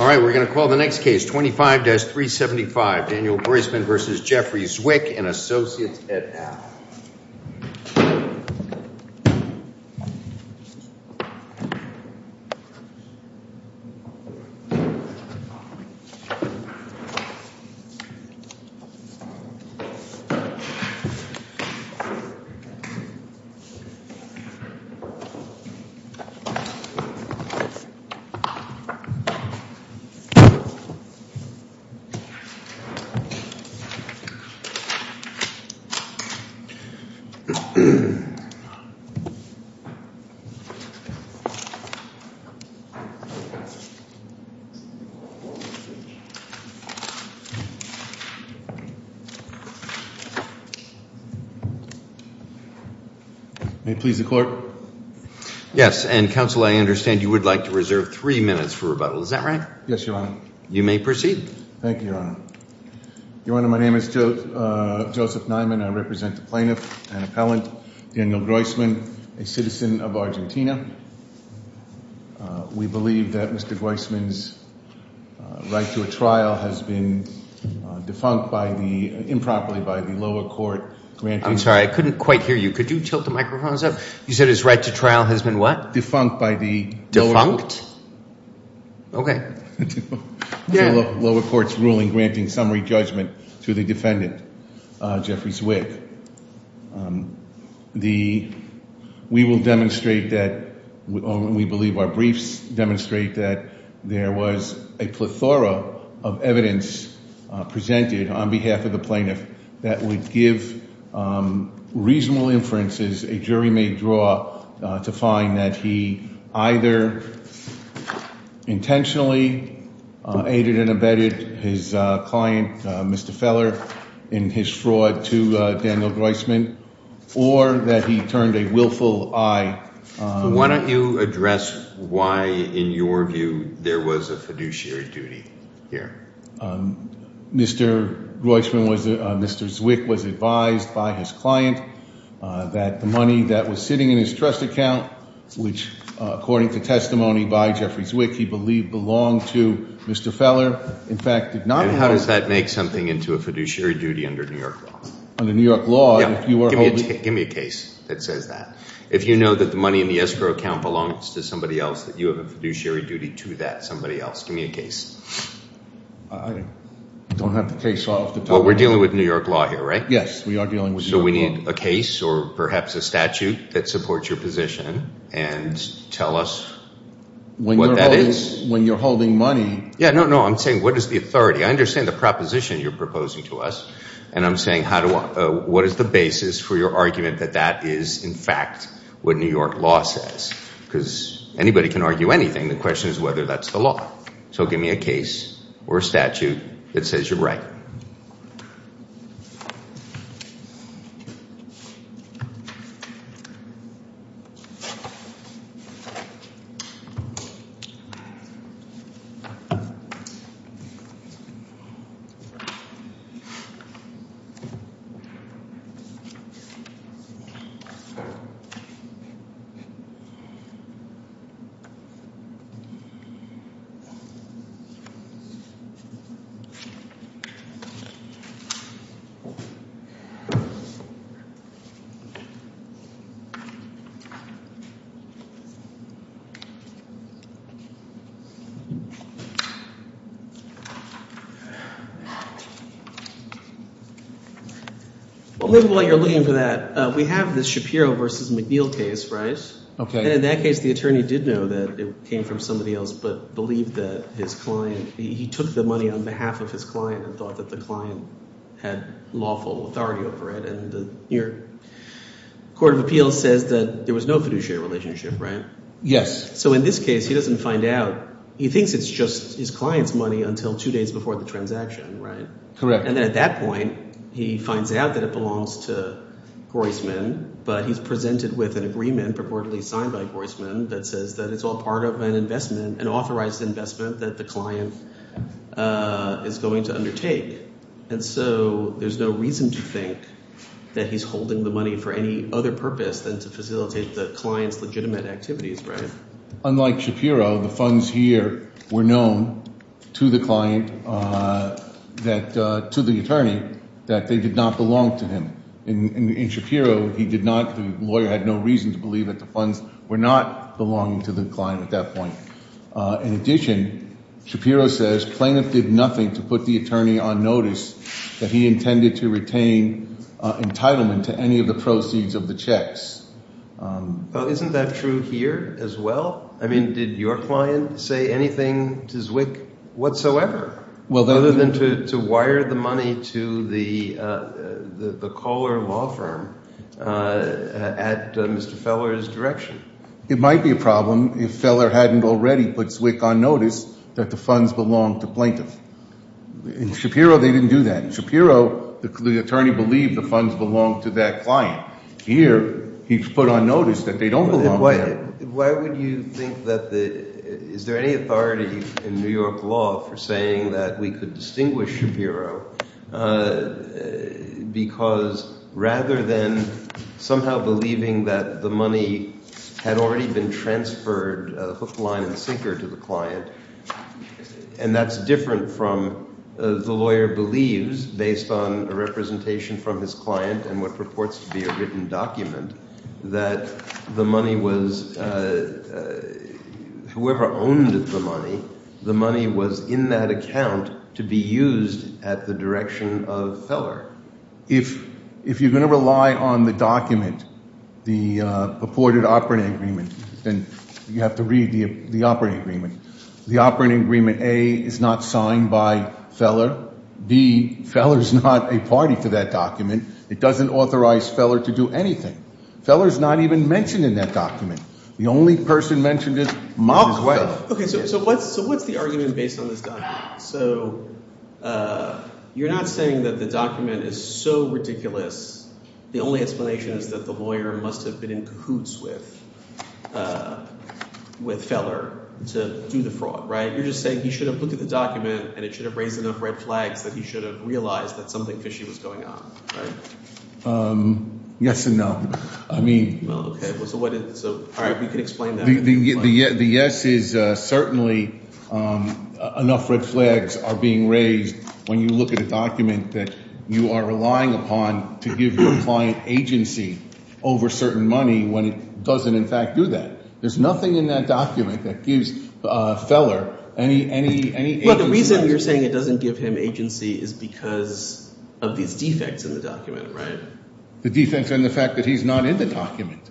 Alright we're going to call the next case 25-375 Daniel Groisman v. Jeffrey Zwick and please the court. Yes and counsel I understand you would like to reserve three minutes for rebuttal is that right? Yes your honor. You may proceed. Thank you your honor. Your honor my name is Joseph Niman I represent the plaintiff and appellant Daniel Groisman a citizen of Argentina. We believe that Mr. Groisman's right to a trial has been defunct by the improperly by the lower court. I'm sorry I couldn't quite hear you could you tilt the microphones up you said his right to trial has been what? Defunct by the lower court's ruling granting summary judgment to the defendant Jeffrey Zwick. The we will demonstrate that we believe our briefs demonstrate that there was a plethora of evidence presented on behalf of the plaintiff that would give reasonable inferences a jury-made draw to find that he either intentionally aided and abetted his client Mr. Feller in his fraud to Daniel Groisman or that he turned a willful eye. Why don't you Mr. Zwick was advised by his client that the money that was sitting in his trust account which according to testimony by Jeffrey Zwick he believed belonged to Mr. Feller in fact did not. How does that make something into a fiduciary duty under New York law? Under New York law. Give me a case that says that. If you know that the money in the escrow account belongs to somebody else that you have a fiduciary duty to that somebody else give me a case. I don't have the case off. We're dealing with New York law here right? Yes we are dealing with. So we need a case or perhaps a statute that supports your position and tell us what that is. When you're holding money. Yeah no no I'm saying what is the authority I understand the proposition you're proposing to us and I'm saying how do I what is the basis for your argument that that is in fact what New York law says because anybody can argue anything the question is whether that's the law. So give me a case or a statute that says you're right. Well maybe while you're looking for that we have the Shapiro versus McNeil case right? Okay. In that case the attorney did know that it came from somebody else but believed that his client he took the money on behalf of his client and thought that the client had lawful authority over it and the court of appeals says that there was no fiduciary relationship right? Yes. So in this case he doesn't find out he thinks it's just his client's money until two days before the transaction right? Correct. And then at that point he finds out that it belongs to Groisman but he's presented with an agreement purportedly signed by Groisman that says that it's all part of an investment an authorized investment that the client is going to undertake and so there's no reason to think that he's holding the money for any other purpose than to facilitate the client's legitimate activities right? Unlike Shapiro the funds here were known to the that to the attorney that they did not belong to him. In Shapiro he did not the lawyer had no reason to believe that the funds were not belonging to the client at that point. In addition Shapiro says plaintiff did nothing to put the attorney on notice that he intended to retain entitlement to any of the proceeds of the checks. Well isn't that true here as well? I mean did your client say anything to Zwick whatsoever? Well other than to wire the money to the the caller law firm at Mr. Feller's direction. It might be a problem if Feller hadn't already put Zwick on notice that the funds belong to plaintiff. In Shapiro they didn't do that. In Shapiro the attorney believed the funds belonged to that client. Here he put on notice that they don't belong to him. Why would you think that the is there any authority in New York law for saying that we could distinguish Shapiro because rather than somehow believing that the money had already been transferred hook line and sinker to the client and that's different from the lawyer believes based on a representation from his client and what purports to be a written document that the money was whoever owned the money the money was in that account to be used at the direction of Feller. If you're going to rely on the document the purported operating agreement then you have to read the operating agreement. The operating agreement A is not signed by Feller. B, Feller's not a party to that document. It doesn't authorize Feller to do anything. Feller's not even mentioned in that document. The only person mentioned it is Feller. So what's the argument based on this document? So you're not saying that the document is so ridiculous the only explanation is that the lawyer must have been in cahoots with with Feller to do the fraud right? You're just saying he should have looked at the document and it should have raised enough red flags that he should have realized that something fishy was going on. Yes and no. I mean the yes is certainly enough red flags are being raised when you look at a document that you are relying upon to give your client agency over certain money when it doesn't in fact do that. There's nothing in that document that gives Feller any Well the reason you're saying it doesn't give him agency is because of these defects in the document right? The defense and the fact that he's not in the document.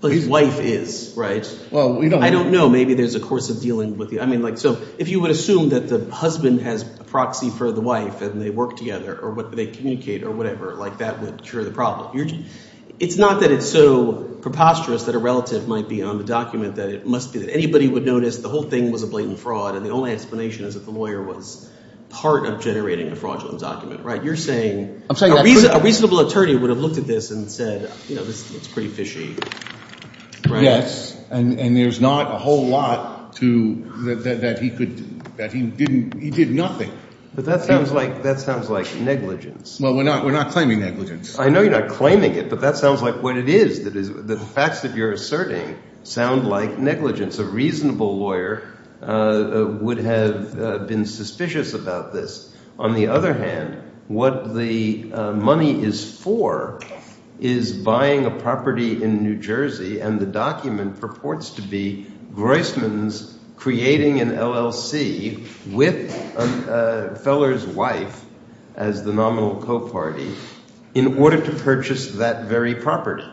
But his wife is right? Well I don't know maybe there's a course of dealing with you I mean like so if you would assume that the husband has a proxy for the wife and they work together or what they communicate or whatever like that would cure the problem. It's not that it's so preposterous that a relative might be on the document that it must be that anybody would notice the whole thing was a blatant fraud and the only explanation is that the lawyer was part of generating the fraudulent document right? You're saying a reasonable attorney would have looked at this and said you know this is pretty fishy. Yes and there's not a whole lot to that he could that he didn't he did nothing. But that sounds like that sounds like negligence. Well we're not we're not claiming negligence. I know you're not claiming it but that sounds like what it is that is the facts that you're asserting sound like negligence. A reasonable lawyer would have been suspicious about this. On the other hand what the money is for is buying a property in New Jersey and the document purports to be Groisman's creating an LLC with Feller's wife as the nominal co-party in order to purchase that very property.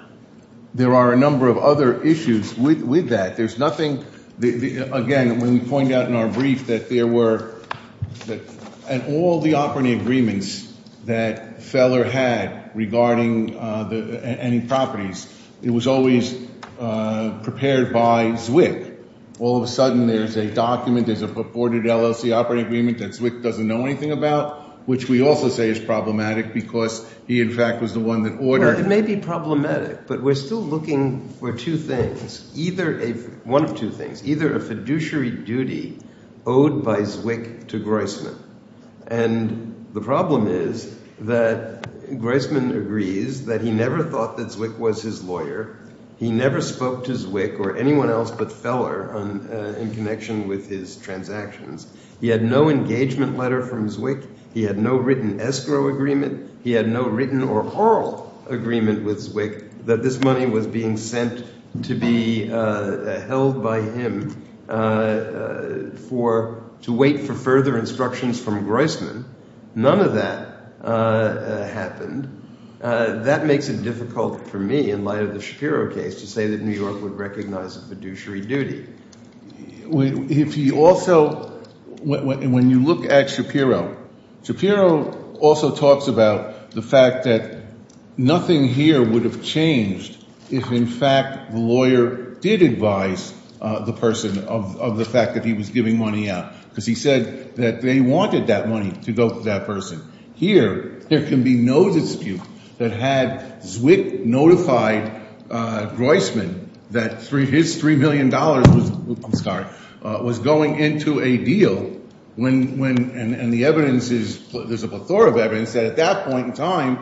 There are a number of other issues with that. There's nothing the again when we point out in our brief that there were that and all the operating agreements that Feller had regarding the any properties it was always prepared by Zwick. All of a sudden there's a document there's a purported LLC operating agreement that Zwick doesn't know anything about which we also say is problematic because he in fact was the one that ordered. It may be problematic but we're still looking for two things either a one of two things either a fiduciary duty owed by Zwick to Groisman and the problem is that Groisman agrees that he never thought that Zwick was his lawyer. He never spoke to Zwick or anyone else but Feller in connection with his transactions. He had no engagement letter from Zwick. He had no written escrow agreement. He had no written or oral agreement with Zwick that this money was being sent to be held by him for to wait for further instructions from Groisman. None of that happened. That makes it difficult for me in light of the Shapiro case to say that New York would recognize a fiduciary duty. If you also when you look at Shapiro, Shapiro also talks about the fact that nothing here would have changed if in fact the lawyer did advise the person of the fact that he was giving money out because he said that they wanted that money to go to that person. Here there can be no dispute that had Zwick notified Groisman that his three million dollars was going into a deal when and the evidence is there's a plethora of evidence that at that point in time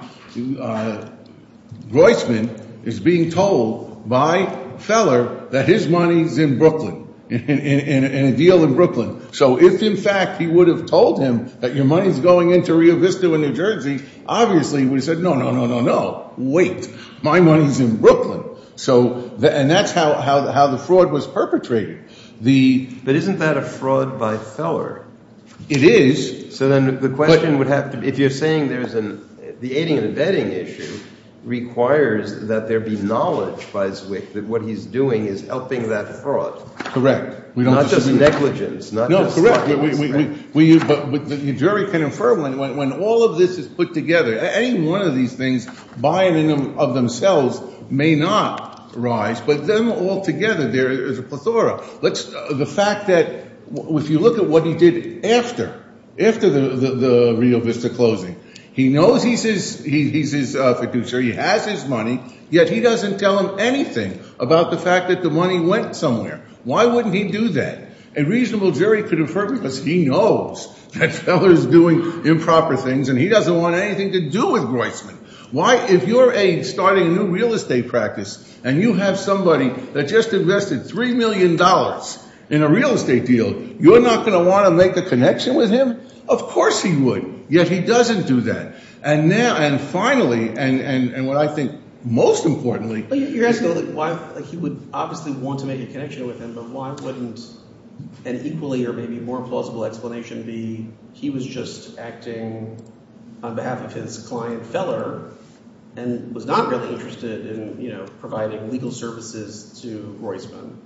Groisman is being told by Feller that his money's in Brooklyn in a deal in Brooklyn. So if in fact he would have told him that your money's going into Rio Vista in New Jersey, obviously we said no no no no no wait my money's in Brooklyn. So and that's how how the fraud was perpetrated. But isn't that a fraud by Feller? It is. So then the question would have to be if you're saying there's an the aiding and abetting issue requires that there be knowledge by Zwick that what he's doing is helping that fraud. Correct. Not just negligence. No, correct. We use but the jury can infer when all of this is put together. Any one of these things by and of themselves may not rise but then all together there is a plethora. Let's the fact that if you look at what he did after, after the Rio Vista closing, he knows he's his fiduciary, he has his money, yet he doesn't tell him anything about the fact that the money went somewhere. Why wouldn't he do that? A reasonable jury could infer because he knows that Feller is doing improper things and he doesn't want anything to do with Groisman. Why if you're a starting a new real estate practice and you have somebody that just invested three million dollars in a real estate deal, you're not going to want to make a connection with him? Of course he would. Yet he doesn't do that. And now and finally and and and what I think most importantly. You're asking why he would obviously want to make a connection with Groisman, but why wouldn't an equally or maybe more plausible explanation be he was just acting on behalf of his client Feller and was not really interested in you know providing legal services to Groisman?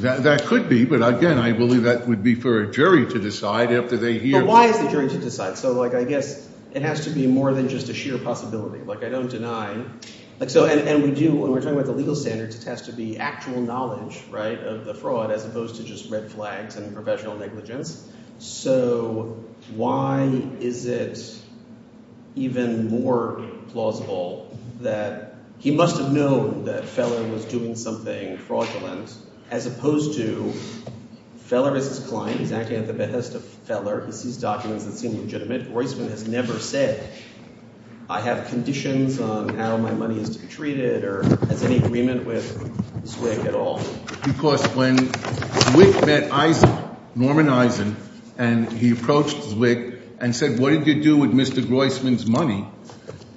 That could be, but again I believe that would be for a jury to decide after they hear. But why is the jury to decide? So like I guess it has to be more than just a sheer possibility. Like I don't think it has to be actual knowledge right of the fraud as opposed to just red flags and professional negligence. So why is it even more plausible that he must have known that Feller was doing something fraudulent as opposed to Feller is his client. He's acting at the behest of Feller. He sees documents that seem legitimate. Groisman has never said I have conditions on how my money is to be in agreement with Zwick at all. Because when Zwick met Eisen, Norman Eisen, and he approached Zwick and said what did you do with Mr. Groisman's money?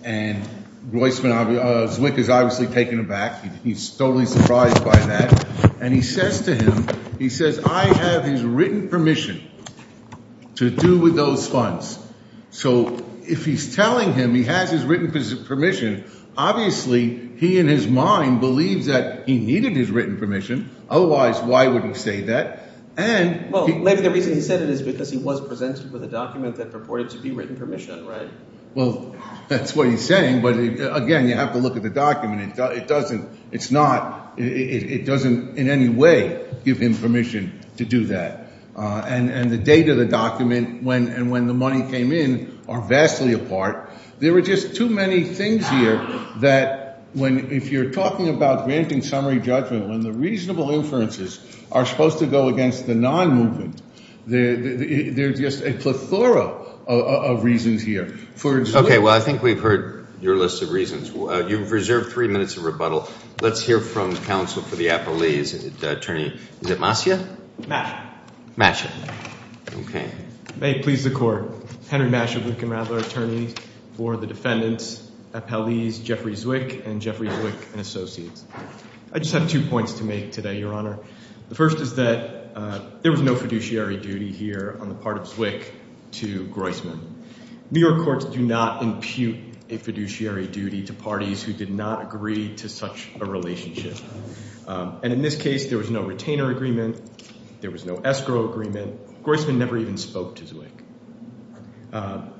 And Zwick is obviously taken aback. He's totally surprised by that. And he says to him, he says I have his written permission to do with those funds. So if he's telling him he has his written permission, obviously he in his mind believes that he needed his written permission. Otherwise why would he say that? And well maybe the reason he said it is because he was presented with a document that purported to be written permission, right? Well that's what he's saying. But again you have to look at the document. It doesn't it's not it doesn't in any way give him permission to do that. And and the date of the document when and when the money came in are vastly apart. There are just too many things here that when if you're talking about granting summary judgment when the reasonable inferences are supposed to go against the non movement. There's just a plethora of reasons here. Okay well I think we've heard your list of reasons. You've reserved three minutes of rebuttal. Let's hear from counsel for the appellees. Attorney, is it Mascia? Mascia. Okay. May it please the court. Henry Mascia, Luke and Radler attorneys for the defendants, appellees Jeffrey Zwick and Jeffrey Zwick and associates. I just have two points to make today your honor. The first is that there was no fiduciary duty here on the part of Zwick to Groisman. New York courts do not impute a fiduciary duty to parties who did not agree to such a relationship. And in this case there was no retainer agreement. There was no escrow agreement. Groisman never even spoke to Zwick.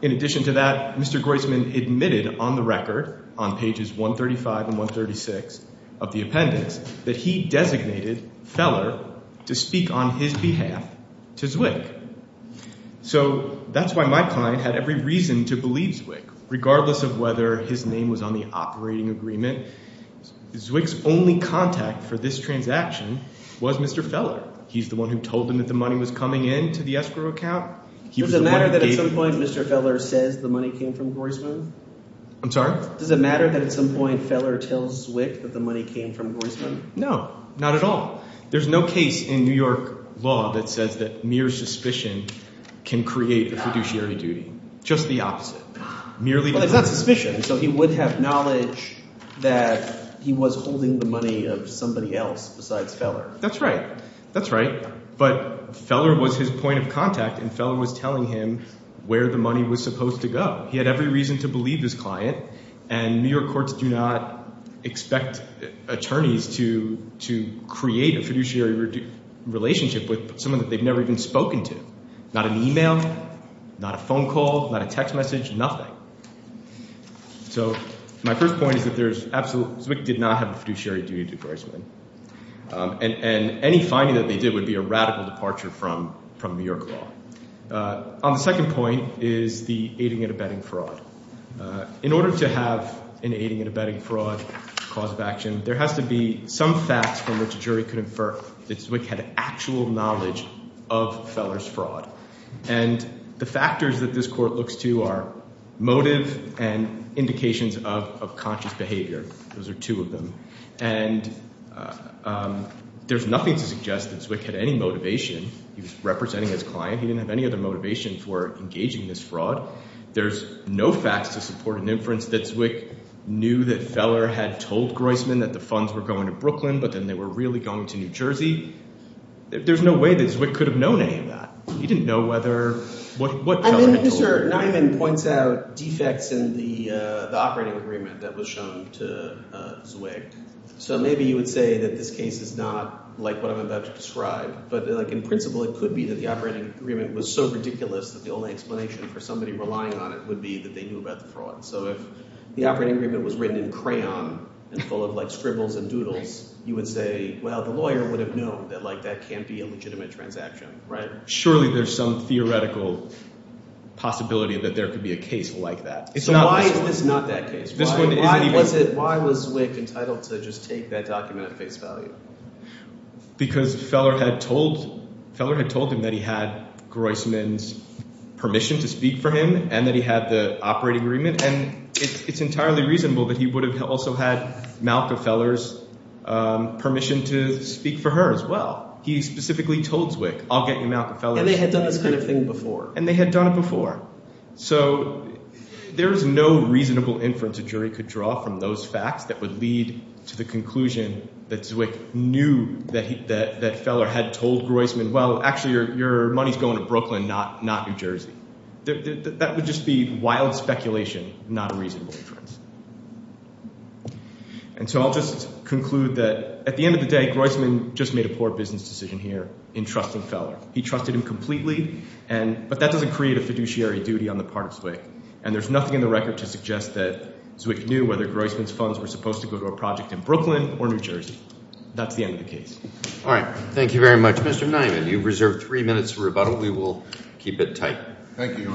In addition to that, Mr. Groisman admitted on the record on pages 135 and 136 of the appendix that he designated Feller to speak on his behalf to Zwick. So that's why my client had every reason to believe Zwick regardless of whether his name was on the operating agreement. Zwick's only contact for this transaction was Mr. Feller. He's the one who told him that the money was coming in to the escrow account. Does it matter that at some point Mr. Feller says the money came from Groisman? I'm sorry? Does it matter that at some point Feller tells Zwick that the money came from Groisman? No, not at all. There's no case in New York law that says that mere suspicion can create the fiduciary duty. Just the opposite. Merely suspicion. So he would have knowledge that he was holding the money of somebody else besides Feller. That's right. That's right. But Feller was his point of contact and Feller was telling him where the money was supposed to go. He had every reason to believe this client and New York courts do not expect attorneys to create a fiduciary relationship with someone that they've never even spoken to. Not an email, not a phone call, not a text message, nothing. So my first point is that Zwick did not have a fiduciary duty to Groisman and any finding that they did would be a radical departure from New York law. On the second point is the aiding and abetting fraud. In order to have an aiding and abetting fraud cause of action, there has to be some facts from which a jury could infer that Zwick had actual knowledge of Feller's fraud. And the factors that this court looks to are motive and indications of conscious behavior. Those are two of them. And there's nothing to suggest that Zwick had any motivation. He was representing his client. He didn't have any other motivation for engaging this fraud. There's no facts to support an inference that Zwick knew that Feller had told Groisman that the funds were going to Brooklyn, but then they were really going to New Jersey. There's no way that Zwick could have known any of that. He didn't know whether, what Feller had told him. Mr. Nyman points out defects in the operating agreement that was shown to Zwick. So maybe you would say that this case is not like what I'm about to describe, but like in principle it could be that the operating agreement was so ridiculous that the only explanation for somebody relying on it would be that they knew about the fraud. So if the operating agreement was written in crayon and full of like scribbles and doodles, you would say, well the lawyer would have known that like that can't be a legitimate transaction, right? Surely there's some theoretical possibility that there could be a case like that. So why is this not that case? Why was Zwick entitled to just take that document at face value? Because Feller had told, Feller had told him that he had Groisman's permission to speak for him and that he had the operating agreement and it's entirely reasonable that he would have also had Malka Feller's permission to speak for her as well. He specifically told Zwick I'll get you Malka Feller. And they had done this kind of thing before. And they had done it before. So there's no reasonable inference a jury could draw from those facts that would lead to the conclusion that Zwick knew that that Feller had told Groisman, well actually your money's going to Brooklyn, not New Jersey. That would just be wild speculation, not a reasonable inference. And so I'll just conclude that at the end of the day, Groisman just made a poor business decision here in trusting Feller. He trusted him completely and but that doesn't create a fiduciary duty on the part of Zwick. And there's nothing in the record to suggest that Zwick knew whether Groisman's funds were supposed to go to a project in Brooklyn or New Jersey. That's the end of the case. All right. Thank you very much. Mr. Nyman, you've reserved three minutes for rebuttal. We will keep it tight. Thank you, Your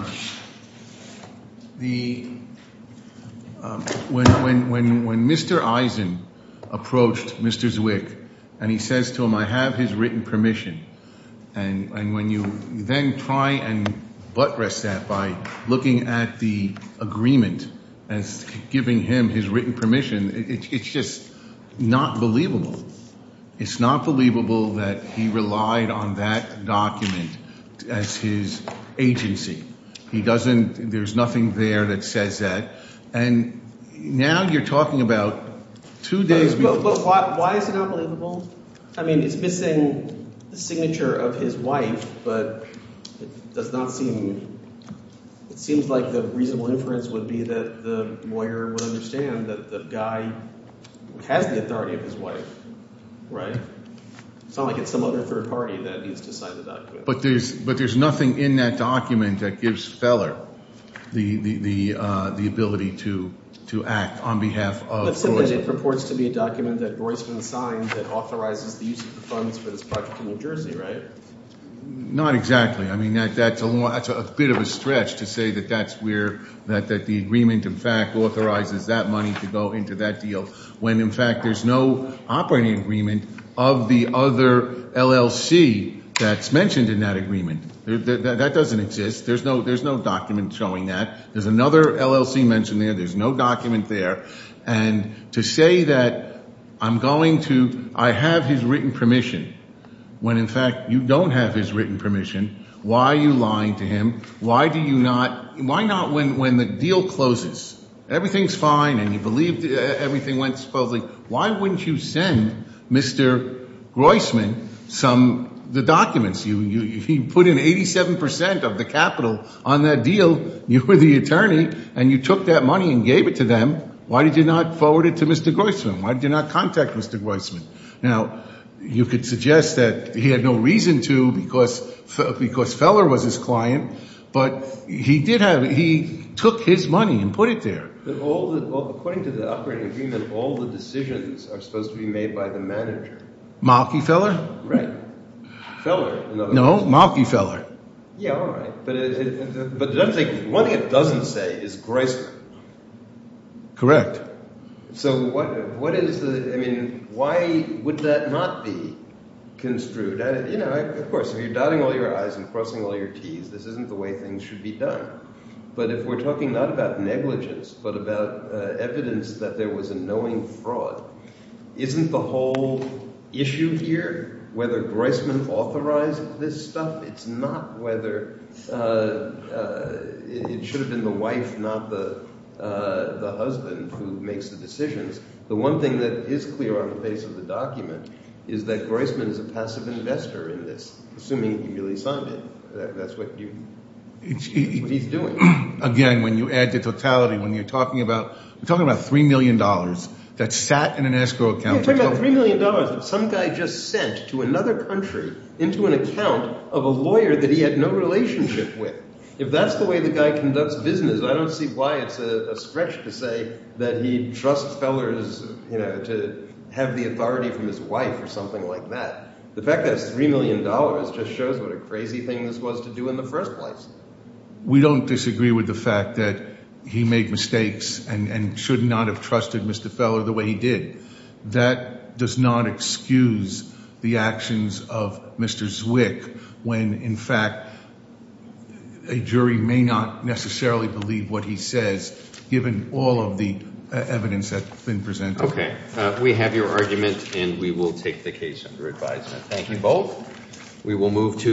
Honor. When Mr. Eisen approached Mr. Zwick and he says to him, I have his written permission, and when you then try and buttress that by looking at the agreement as giving him his written permission, it's just not believable. It's not believable that he relied on that document as his agency. He doesn't, there's nothing there that says that. And now you're talking about two days. But why is it not believable? I mean, it's missing the signature of his wife, but it does not seem, it seems like the reasonable inference would be that the lawyer would understand that the guy has the authority of his wife, right? It's not like it's some other third party that needs to sign the document. But there's nothing in that document that gives to act on behalf of... It purports to be a document that Royceman signed that authorizes the use of the funds for this project in New Jersey, right? Not exactly. I mean, that's a bit of a stretch to say that that's where, that the agreement, in fact, authorizes that money to go into that deal when, in fact, there's no operating agreement of the other LLC that's mentioned in that agreement. That doesn't exist. There's no document showing that. There's another LLC mentioned there. There's no document there. And to say that I'm going to, I have his written permission, when, in fact, you don't have his written permission, why are you lying to him? Why do you not, why not when the deal closes, everything's fine and you believe everything went smoothly, why wouldn't you send Mr. Royceman some, the documents? You put in 87% of the capital on that deal. You were the attorney and you took that money and gave it to them. Why did you not forward it to Mr. Royceman? Why did you not contact Mr. Royceman? Now, you could suggest that he had no reason to because because Feller was his client, but he did have, he took his money and put it there. But all the, according to the operating agreement, all the decisions are supposed to be made by the manager. Malky Feller? Right. Feller, in other words. No, Malky Feller. Yeah, all right. But one thing it doesn't say is Royceman. Correct. So what is the, I mean, why would that not be construed? You know, of course, if you're dotting all your I's and crossing all your T's, this isn't the way things should be done. But if we're talking not about negligence, but about evidence that there was a knowing fraud, isn't the whole issue here whether Royceman authorized this stuff? It's not whether, it should have been the wife, not the husband who makes the decisions. The one thing that is clear on the base of the document is that Royceman is a passive investor in this, assuming he really signed it. That's what he's doing. Again, when you add to totality, when you're talking about, we're talking about $3 million that sat in an escrow account. Yeah, we're talking about $3 million that some guy just sent to another country into an account of a lawyer that he had no relationship with. If that's the way the guy conducts business, I don't see why it's a stretch to say that he trusts Fellers, you know, to have the authority from his wife or something like that. The fact that it's $3 million just shows what a crazy thing this was to do in the first place. We don't disagree with the fact that he made mistakes and should not have trusted Mr. Feller the way he did. That does not excuse the actions of Mr. Zwick when, in fact, a jury may not necessarily believe what he says, given all of the evidence that's been presented. Okay, we have your argument and we will take the case under advisement. Thank you both.